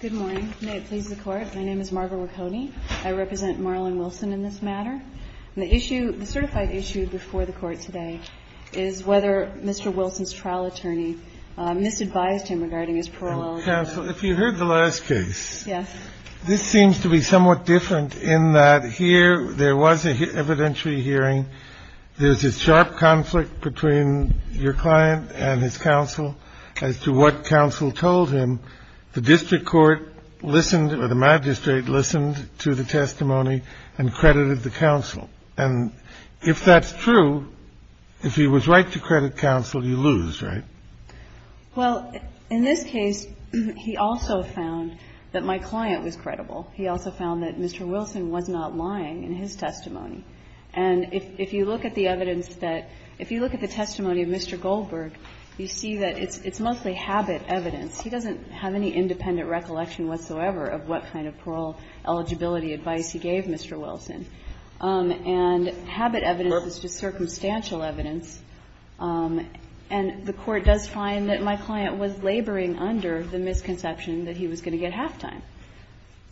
Good morning. May it please the Court, my name is Margaret Raccone. I represent Marlon Wilson in this matter. The issue, the certified issue before the Court today is whether Mr. Wilson's trial attorney misadvised him regarding his parole eligibility. If you heard the last case, this seems to be somewhat different in that here there was an evidentiary hearing. There's a sharp conflict between your client and his counsel as to what counsel told him, the district court listened or the magistrate listened to the testimony and credited the counsel. And if that's true, if he was right to credit counsel, you lose, right? Well, in this case, he also found that my client was credible. He also found that Mr. Wilson was not lying in his testimony. And if you look at the evidence that – if you look at the testimony of Mr. Goldberg, you see that it's mostly habit evidence. He doesn't have any independent recollection whatsoever of what kind of parole eligibility advice he gave Mr. Wilson. And habit evidence is just circumstantial evidence. And the Court does find that my client was laboring under the misconception that he was going to get halftime.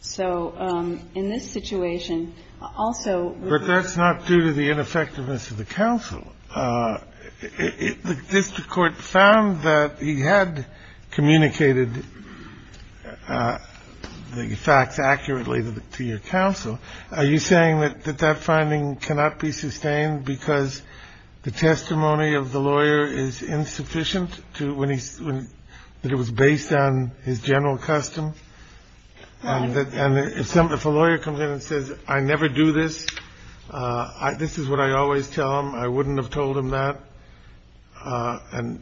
So in this situation, also we're going to have to look at the evidence that Mr. Goldberg found that he had communicated the facts accurately to your counsel. Are you saying that that finding cannot be sustained because the testimony of the lawyer is insufficient to when he's – that it was based on his general custom and that – and if a lawyer comes in and says, I never do this, this is what I always tell him, I wouldn't have told him that. And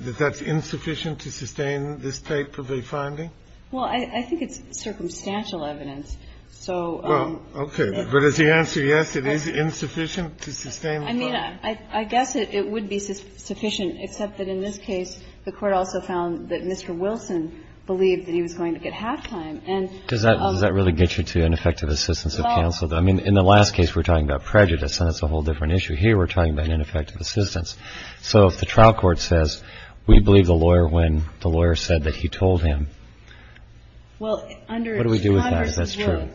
that that's insufficient to sustain this type of a finding? Well, I think it's circumstantial evidence. So – Well, okay. But is the answer yes, it is insufficient to sustain the finding? I mean, I guess it would be sufficient, except that in this case, the Court also found that Mr. Wilson believed that he was going to get halftime. And – Does that really get you to ineffective assistance of counsel, though? I mean, in the last case, we're talking about prejudice, and that's a whole different issue. Here, we're talking about ineffective assistance. So if the trial court says, we believe the lawyer when the lawyer said that he told him, what do we do with that if that's true?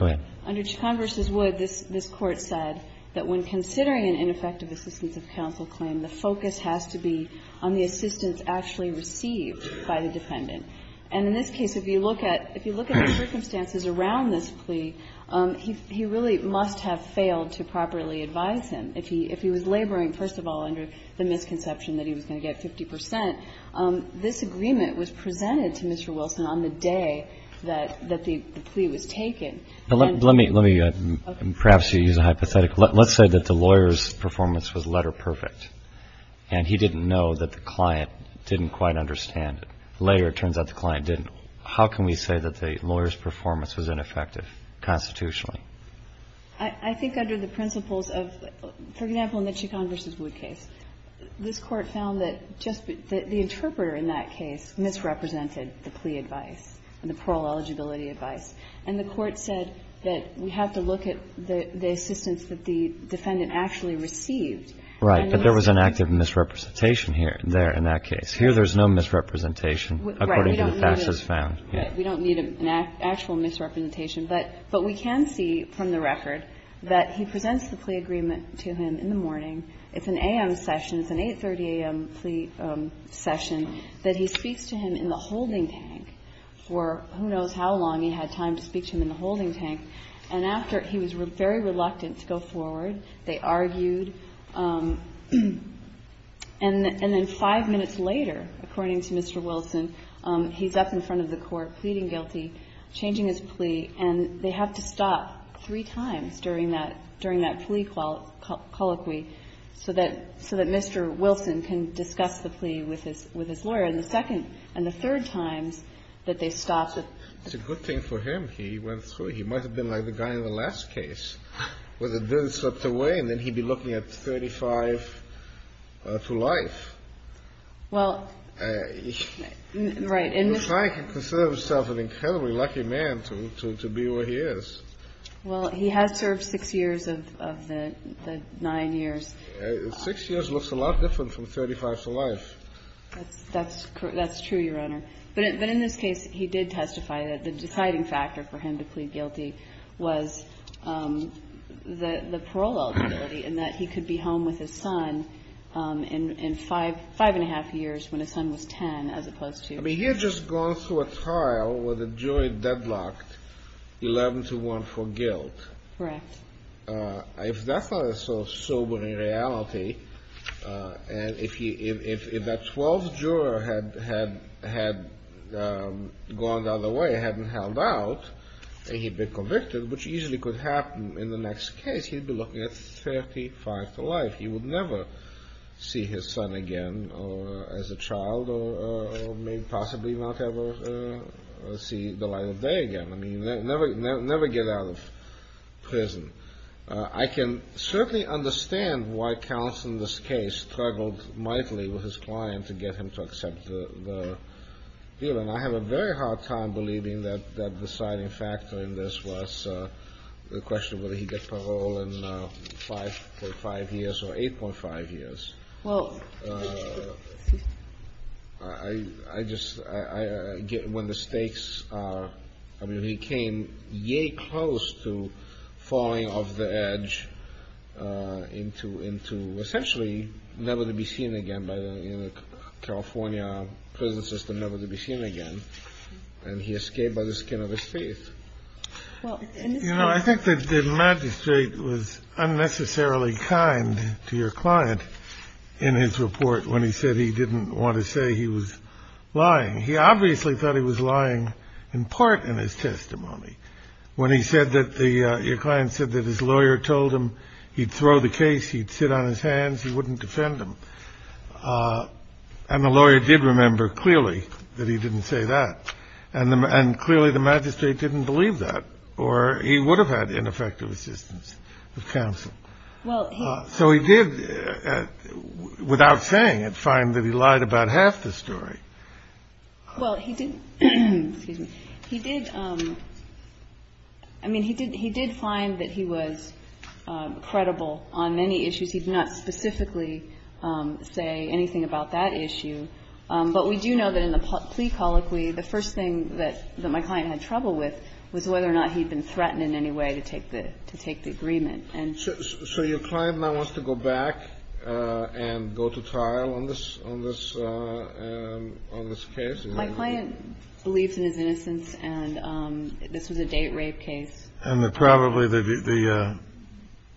Well, under Chacon v. Wood, this Court said that when considering an ineffective assistance of counsel claim, the focus has to be on the assistance actually received by the dependent. And in this case, if you look at the circumstances around this plea, he really must have failed to properly advise him. If he was laboring, first of all, under the misconception that he was going to get 50 percent, this agreement was presented to Mr. Wilson on the day that the plea was taken. But let me, perhaps you use a hypothetical. Let's say that the lawyer's performance was letter-perfect, and he didn't know that the client didn't quite understand it. Later, it turns out the client didn't. How can we say that the lawyer's performance was ineffective constitutionally? I think under the principles of, for example, in the Chacon v. Wood case, this Court found that just the interpreter in that case misrepresented the plea advice and the parole eligibility advice. And the Court said that we have to look at the assistance that the defendant And the lawyer's performance was letter-perfect. Right, but there was an active misrepresentation here, there, in that case. Here, there's no misrepresentation, according to the facts as found. Right, we don't need an actual misrepresentation. But we can see from the record that he presents the plea agreement to him in the morning. It's an a.m. session. It's an 830 a.m. plea session, that he speaks to him in the holding tank for who knows how long he had time to speak to him in the holding tank. And after, he was very reluctant to go forward. They argued. And then five minutes later, according to Mr. Wilson, he's up in front of the Court pleading guilty, changing his plea, and they have to stop three times during that plea colloquy so that Mr. Wilson can discuss the plea with his lawyer, and the second and the third times that they stop. It's a good thing for him. He went through. He might have been like the guy in the last case, where the bill slipped away, and then he'd be looking at 35 for life. Well, right. And if I can consider myself an incredibly lucky man to be where he is. Well, he has served six years of the nine years. Six years looks a lot different from 35 for life. That's true, Your Honor. But in this case, he did testify that the deciding factor for him to plead guilty was the parole eligibility, and that he could be home with his son in five and a half I mean, he had just gone through a trial where the jury deadlocked 11 to 1 for guilt. Correct. If that's not a sobering reality, and if that 12th juror had gone the other way, hadn't held out, and he'd been convicted, which easily could happen in the next case, he'd be looking at 35 for life. He would never see his son again, or as a child, or maybe possibly not ever see the light of day again. I mean, never get out of prison. I can certainly understand why counsel in this case struggled mightily with his client to get him to accept the deal, and I have a very hard time believing that the deciding factor in this was the question of whether he'd get parole in 5.5 years or 8.5 years. I just, when the stakes are, I mean, he came yay close to falling off the edge into essentially never to be seen again by the California prison system, never to be seen again, and he escaped by the skin of his teeth. You know, I think that the magistrate was unnecessarily kind to your client in his report when he said he didn't want to say he was lying. He obviously thought he was lying in part in his testimony when he said that your client said that his lawyer told him he'd throw the case, he'd sit on his hands, he wouldn't defend him. And the lawyer did remember clearly that he didn't say that, and clearly the magistrate didn't believe that, or he would have had ineffective assistance with counsel. So he did, without saying it, find that he lied about half the story. Well, he did, excuse me, he did, I mean, he did find that he was credible on many issues. He did not specifically say anything about that issue. But we do know that in the plea colloquy, the first thing that my client had trouble with was whether or not he'd been threatened in any way to take the agreement. And so your client now wants to go back and go to trial on this case? My client believes in his innocence, and this was a date rape case. And probably the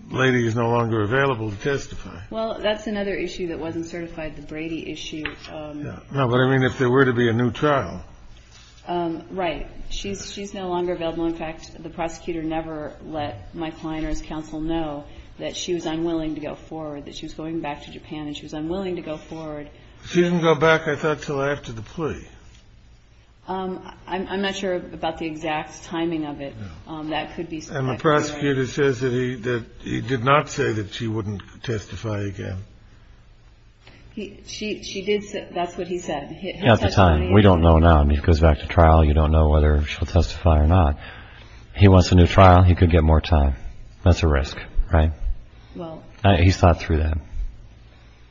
lady is no longer available to testify. Well, that's another issue that wasn't certified, the Brady issue. No, but I mean, if there were to be a new trial. Right. She's no longer available. In fact, the prosecutor never let my client or his counsel know that she was unwilling to go forward, that she was going back to Japan and she was unwilling to go forward. She didn't go back, I thought, until after the plea. I'm not sure about the exact timing of it. That could be. And the prosecutor says that he did not say that she wouldn't testify again. She did. That's what he said at the time. We don't know now. And he goes back to trial. You don't know whether she'll testify or not. He wants a new trial. He could get more time. That's a risk. Right. Well, he's thought through that.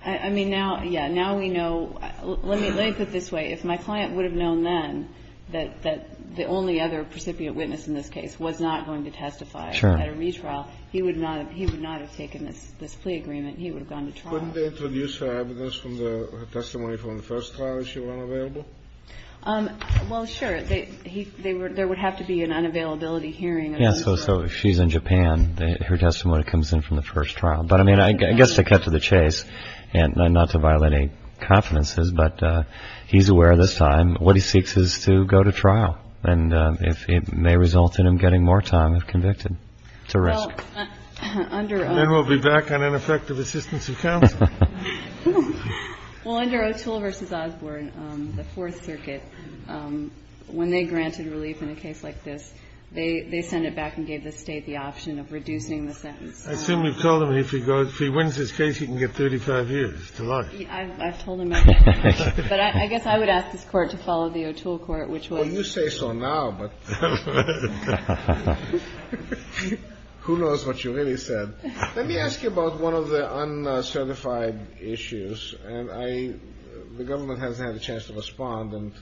I mean, now. Yeah. Now we know. Let me put it this way. If my client would have known then that the only other precipient witness in this case was not going to testify at a retrial, he would not have taken this plea agreement. He would have gone to trial. Couldn't they introduce her evidence from the testimony from the first trial if she were unavailable? Well, sure. There would have to be an unavailability hearing. Yeah. So if she's in Japan, her testimony comes in from the first trial. But, I mean, I guess to cut to the chase and not to violate any confidences, but he's aware this time what he seeks is to go to trial. And if it may result in him getting more time if convicted, it's a risk. Under. And then we'll be back on ineffective assistance of counsel. Well, under O'Toole v. Osborne, the Fourth Circuit, when they granted relief in a case like this, they sent it back and gave the State the option of reducing the sentence. I assume you've told him if he goes, if he wins this case, he can get 35 years to life. I've told him that. But I guess I would ask this Court to follow the O'Toole Court, which will. Well, you say so now, but who knows what you really said. Let me ask you about one of the uncertified issues. And I, the government hasn't had a chance to respond and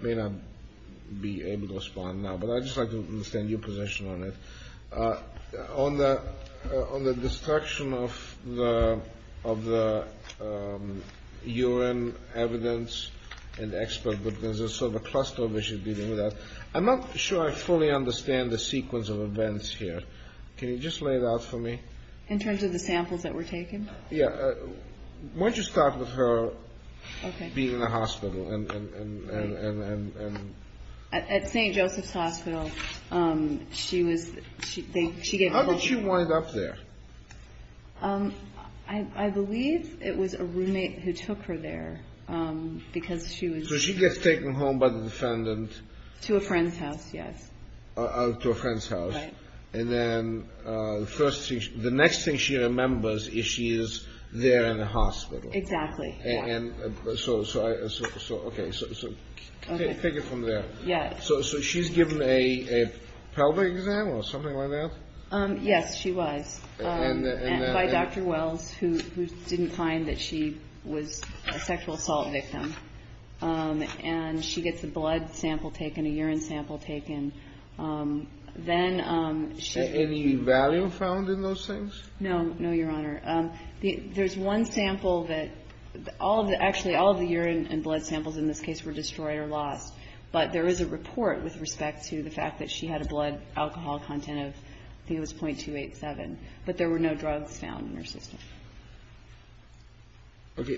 may not be able to respond now. But I just like to understand your position on it on the on the destruction of the of the U.N. evidence and expert. But there's a sort of a cluster of issues dealing with that. I'm not sure I fully understand the sequence of events here. Can you just lay it out for me in terms of the samples that were taken? Yeah. Why don't you start with her being in the hospital and. At St. Joseph's Hospital, she was, she, she, she, how did she wind up there? I believe it was a roommate who took her there because she was. So she gets taken home by the defendant to a friend's house. Yes. To a friend's house. And then the first thing, the next thing she remembers is she is there in the hospital. Exactly. And so, so, so, so, okay, so, so take it from there. Yeah. So, so she's given a pelvic exam or something like that. Yes, she was by Dr. Wells, who didn't find that she was a sexual assault victim. And she gets a blood sample taken, a urine sample taken. Then she. Any value found in those things? No, no, Your Honor. There's one sample that all of the actually all of the urine and blood samples in this case were destroyed or lost. But there is a report with respect to the fact that she had a blood alcohol content of, I think it was 0.287. But there were no drugs found in her system.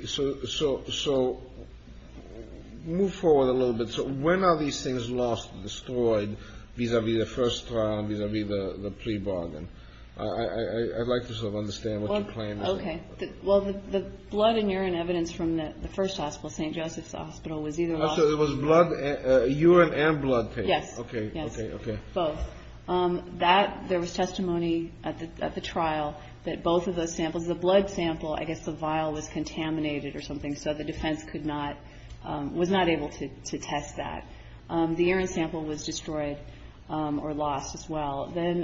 So, so, so move forward a little bit. So when are these things lost, destroyed vis-a-vis the first trial, vis-a-vis the pre-bargain? I'd like to sort of understand what your plan is. Okay. Well, the blood and urine evidence from the first hospital, St. Joseph's Hospital, was either lost. So it was blood, urine and blood taken. Yes. Okay. Yes. Okay. Both. That there was testimony at the trial that both of those samples, the blood sample, I guess the vial was contaminated or something. So the defense could not, was not able to test that. The urine sample was destroyed or lost as well. Then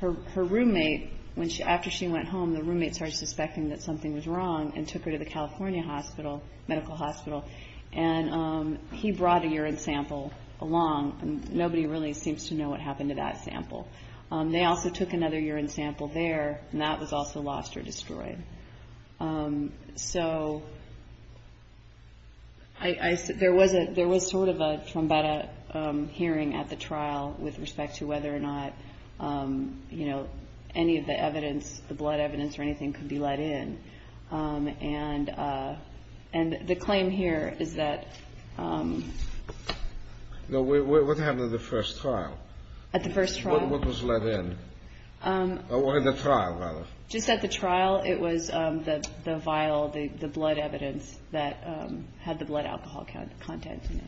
her roommate, when she, after she went home, the roommate started suspecting that something was wrong and took her to the California hospital, medical hospital, and he brought a urine sample along. Nobody really seems to know what happened to that sample. They also took another urine sample there, and that was also lost or destroyed. So I, there was a, there was sort of a, from about a hearing at the trial with respect to whether or not, you know, any of the evidence, the blood evidence or anything, could be let in. And, and the claim here is that. No, what happened at the first trial? At the first trial. What was let in? Or at the trial, rather. Just at the trial, it was the vial, the blood evidence that had the blood alcohol content in it.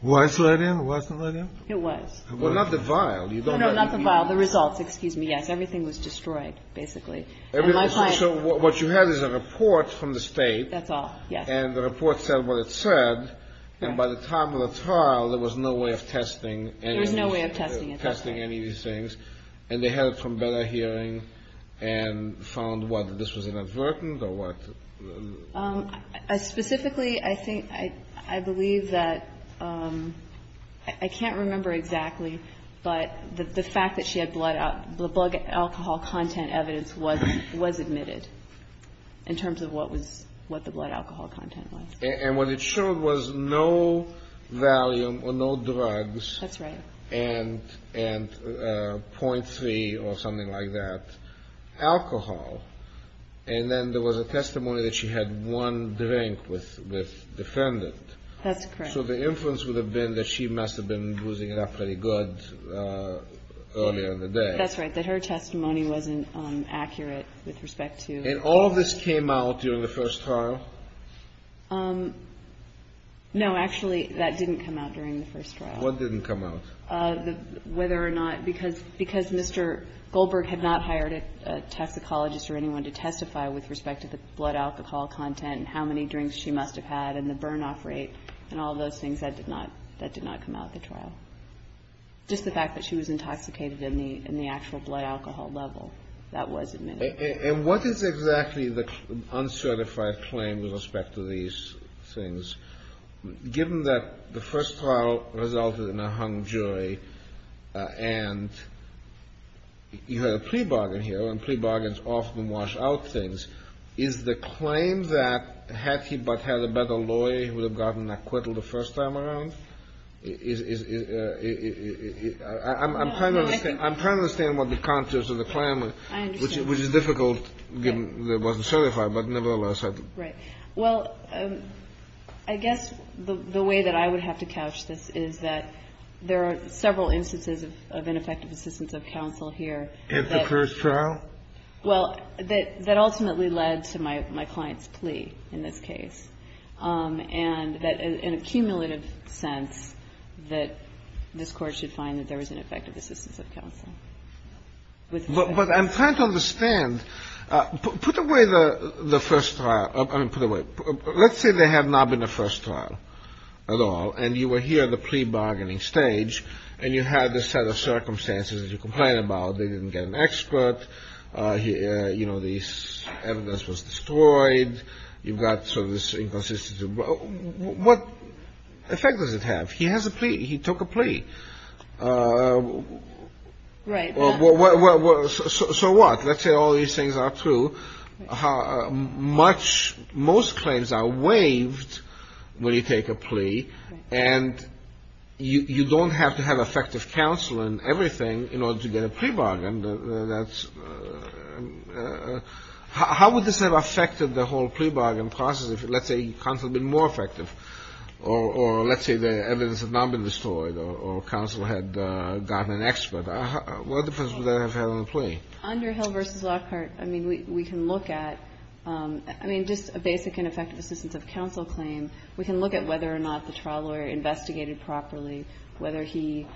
Was let in? Wasn't let in? It was. Well, not the vial. You don't know. Not the vial. The results. Excuse me. Yes. Everything was destroyed, basically. Everything. So what you have is a report from the state. That's all. Yes. And the report said what it said. And by the time of the trial, there was no way of testing. There was no way of testing. Testing any of these things. And they heard from Bella Hearing and found what? This was inadvertent or what? I specifically, I think, I believe that, I can't remember exactly, but the fact that she had blood alcohol content evidence was admitted in terms of what was, what the blood alcohol content was. And what it showed was no valium or no drugs. That's right. And .3 or something like that. Alcohol. And then there was a testimony that she had one drink with defendant. That's correct. So the inference would have been that she must have been boozing it up pretty good earlier in the day. That's right. That her testimony wasn't accurate with respect to. And all of this came out during the first trial? No, actually, that didn't come out during the first trial. What didn't come out? Whether or not, because Mr. Goldberg had not hired a toxicologist or anyone to testify with respect to the blood alcohol content and how many drinks she must have had and the burn off rate and all those things that did not come out of the trial. Just the fact that she was intoxicated in the actual blood alcohol level. That was admitted. And what is exactly the uncertified claim with respect to these things? Given that the first trial resulted in a hung jury and. You had a plea bargain here and plea bargains often wash out things. Is the claim that had he but had a better lawyer, he would have gotten acquittal the first time around? I'm trying to understand what the context of the claim is, which is difficult given that it wasn't certified, but nevertheless. Right. Well, I guess the way that I would have to couch this is that there are several instances of ineffective assistance of counsel here. In the first trial? Well, that ultimately led to my client's plea in this case. And that in a cumulative sense that this Court should find that there was ineffective assistance of counsel. But I'm trying to understand. Put away the first trial. I mean, put away. Let's say they have not been the first trial at all. And you were here at the plea bargaining stage and you had this set of circumstances that you complain about. They didn't get an expert. You know, the evidence was destroyed. You've got sort of this inconsistency. What effect does it have? He has a plea. He took a plea. Right. Well, so what? Let's say all these things are true. How much most claims are waived when you take a plea and you don't have to have effective counsel and everything in order to get a plea bargain. That's how would this have affected the whole plea bargain process? If let's say counsel had been more effective, or let's say the evidence had not been destroyed, or counsel had gotten an expert, what difference would that have had on the plea? Under Hill v. Lockhart, I mean, we can look at, I mean, just a basic and effective assistance of counsel claim. We can look at whether or not the trial lawyer investigated properly, whether he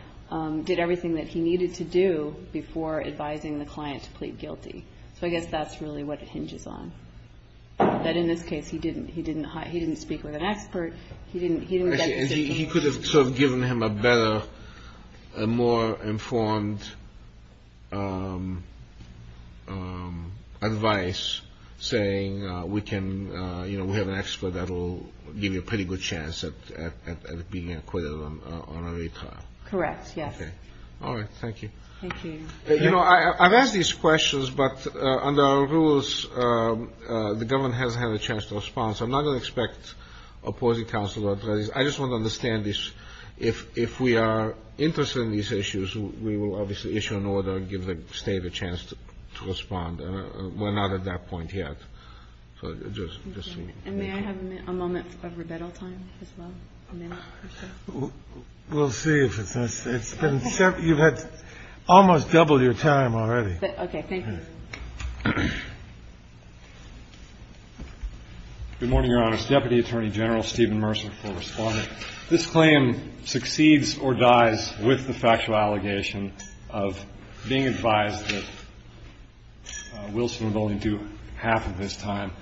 did everything that he needed to do before advising the client to plead guilty. So I guess that's really what it hinges on. That in this case, he didn't he didn't he didn't speak with an expert. He didn't he could have given him a better, more informed advice saying we can, you know, we have an expert that will give you a pretty good chance at being acquitted on a retrial. Correct. Yes. All right. Thank you. You know, I've asked these questions, but under our rules, the government hasn't had a chance to respond. So I'm not going to expect opposing counsel. But I just want to understand this. If if we are interested in these issues, we will obviously issue an order and give the state a chance to respond. We're not at that point yet. So just a moment of rebuttal time as well. We'll see if it's it's been you've had almost double your time already. Okay. Thank you. Good morning, Your Honor. Deputy Attorney General Stephen Mercer for responding. This claim succeeds or dies with the factual allegation of being advised that Wilson would only do half of his time.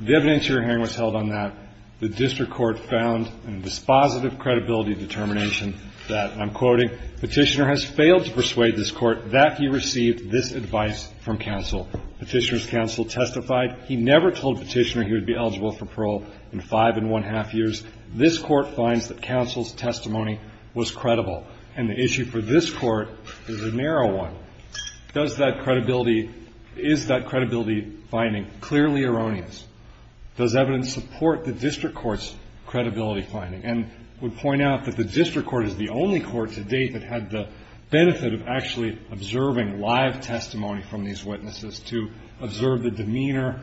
The evidence you're hearing was held on that. The district court found a dispositive credibility determination that I'm quoting petitioner has failed to persuade this court that he received this advice from counsel. Petitioners counsel testified he never told petitioner he would be eligible for parole in five and one half years. This court finds that counsel's testimony was credible. And the issue for this court is a narrow one. Does that credibility? Is that credibility finding clearly erroneous? Does evidence support the district court's credibility finding and would point out that the district court is the only court to date that had the benefit of actually observing live testimony from these witnesses to observe the demeanor,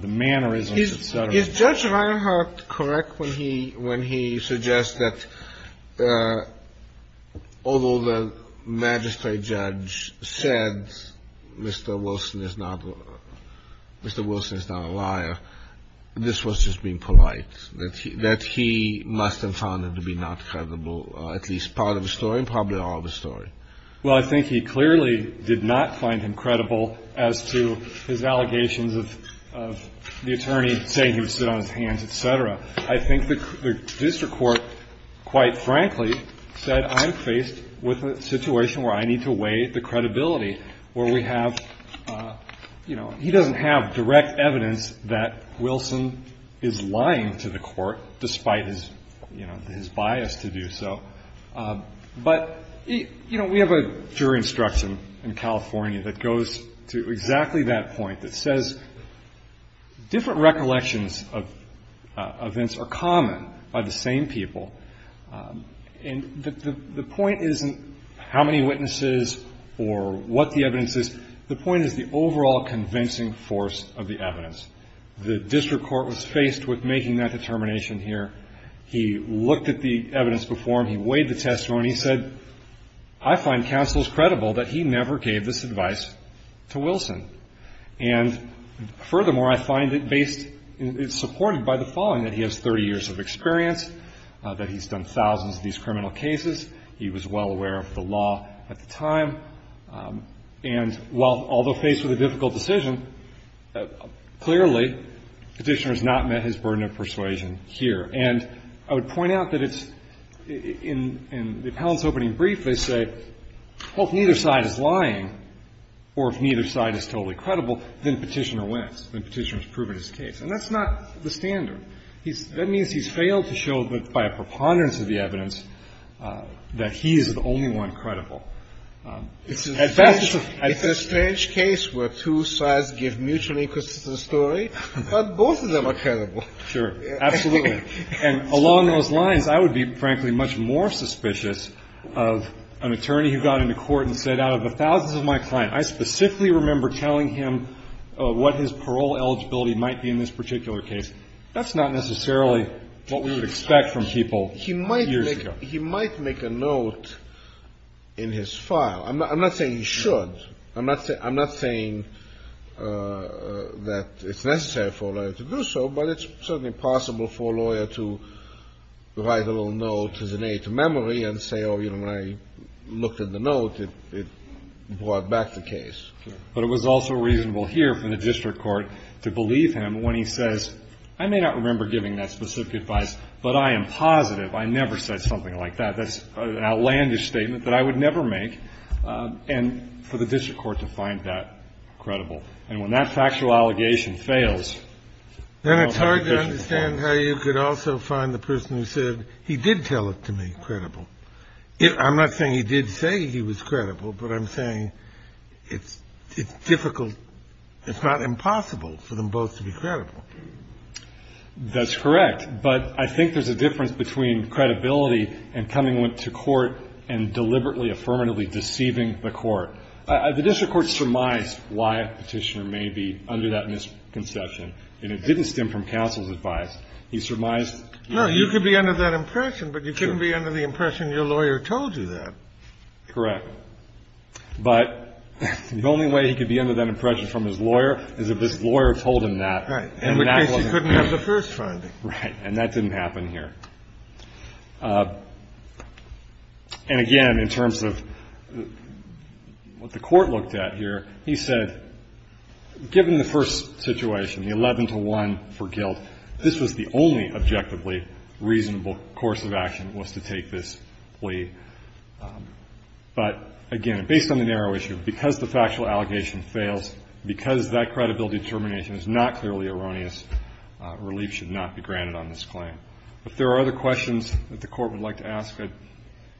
the mannerisms, etc. Is Judge Reinhart correct when he when he suggests that although the magistrate judge said Mr. Wilson is not a liar, this was just being polite, that he must have found it to be not credible, at least part of the story and probably all of the story. Well, I think he clearly did not find him credible as to his allegations of the attorney saying he would sit on his hands, etc. I think the district court, quite frankly, said I'm faced with a situation where I need to weigh the credibility where we have, you know, he doesn't have direct evidence that Wilson is lying to the court, despite his, you know, his bias to do so. But, you know, we have a jury instruction in California that goes to exactly that point that says different recollections of events are common by the same people. And the point isn't how many witnesses or what the evidence is. The point is the overall convincing force of the evidence. The district court was faced with making that determination here. He looked at the evidence before him. He weighed the testimony. He said I find counsels credible that he never gave this advice to Wilson. And furthermore, I find it based, it's supported by the following, that he has 30 years of experience, that he's done thousands of these criminal cases. He was well aware of the law at the time. And while, although faced with a difficult decision, clearly the petitioner has not met his burden of persuasion here. And I would point out that it's, in the appellant's opening brief, they say, well, if neither side is lying or if neither side is totally credible, then Petitioner wins. Then Petitioner has proven his case. And that's not the standard. He's, that means he's failed to show that by a preponderance of the evidence that he is the only one credible. As fast as a. It's a strange case where two sides give mutually consistent story, but both of them are credible. Sure, absolutely. And along those lines, I would be, frankly, much more suspicious of an attorney who got into court and said, out of the thousands of my client, I specifically remember telling him what his parole eligibility might be in this particular case. That's not necessarily what we would expect from people. He might. Years ago, he might make a note in his file. I'm not saying he should. I'm not saying that it's necessary for a lawyer to do so, but it's certainly possible for a lawyer to write a little note as an aid to memory and say, oh, you know, when I looked at the note, it brought back the case. But it was also reasonable here for the district court to believe him when he says, I may not remember giving that specific advice, but I am positive. I never said something like that. That's an outlandish statement that I would never make. And for the district court to find that credible and when that factual allegation fails, then it's hard to understand how you could also find the person who said he did tell it to me credible. I'm not saying he did say he was credible, but I'm saying it's difficult. It's not impossible for them both to be credible. That's correct. But I think there's a difference between credibility and coming to court and deliberately, affirmatively deceiving the court. The district court surmised why Petitioner may be under that misconception, and it didn't stem from counsel's advice. He surmised. No, you could be under that impression, but you couldn't be under the impression your lawyer told you that. Correct. But the only way he could be under that impression from his lawyer is if his lawyer told him that. Right. In which case he couldn't have the first finding. Right. And that didn't happen here. And again, in terms of what the Court looked at here, he said, given the first situation, the 11 to 1 for guilt, this was the only objectively reasonable course of action was to take this plea. But again, based on the narrow issue, because the factual allegation fails, because that credibility determination is not clearly erroneous, relief should not be granted on this claim. If there are other questions that the Court would like to ask, I'd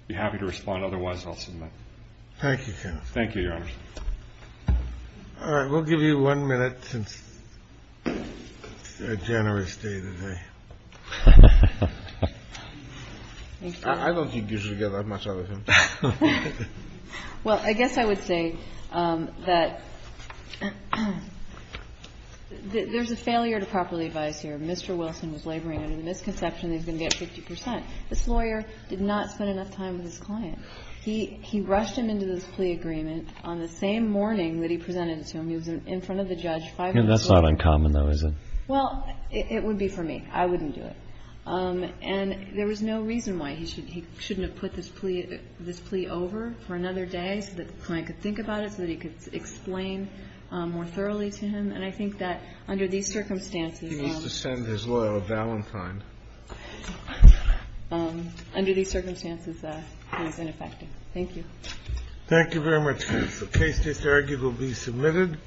be happy to respond. Otherwise, I'll submit. Thank you, counsel. Thank you, Your Honor. All right. We'll give you one minute since it's a generous day today. I don't think you should get that much out of him. Well, I guess I would say that there's a failure to properly advise here. Mr. Wilson was laboring under the misconception that he was going to get 50 percent. This lawyer did not spend enough time with his client. He rushed him into this plea agreement on the same morning that he presented it to him. He was in front of the judge five minutes later. That's not uncommon, though, is it? Well, it would be for me. I wouldn't do it. And there was no reason why he shouldn't have put this plea over for another day so that the client could think about it, so that he could explain more thoroughly to him. And I think that under these circumstances he needs to send his lawyer a valentine. Under these circumstances, he was ineffective. Thank you. Thank you very much. The case disargued will be submitted.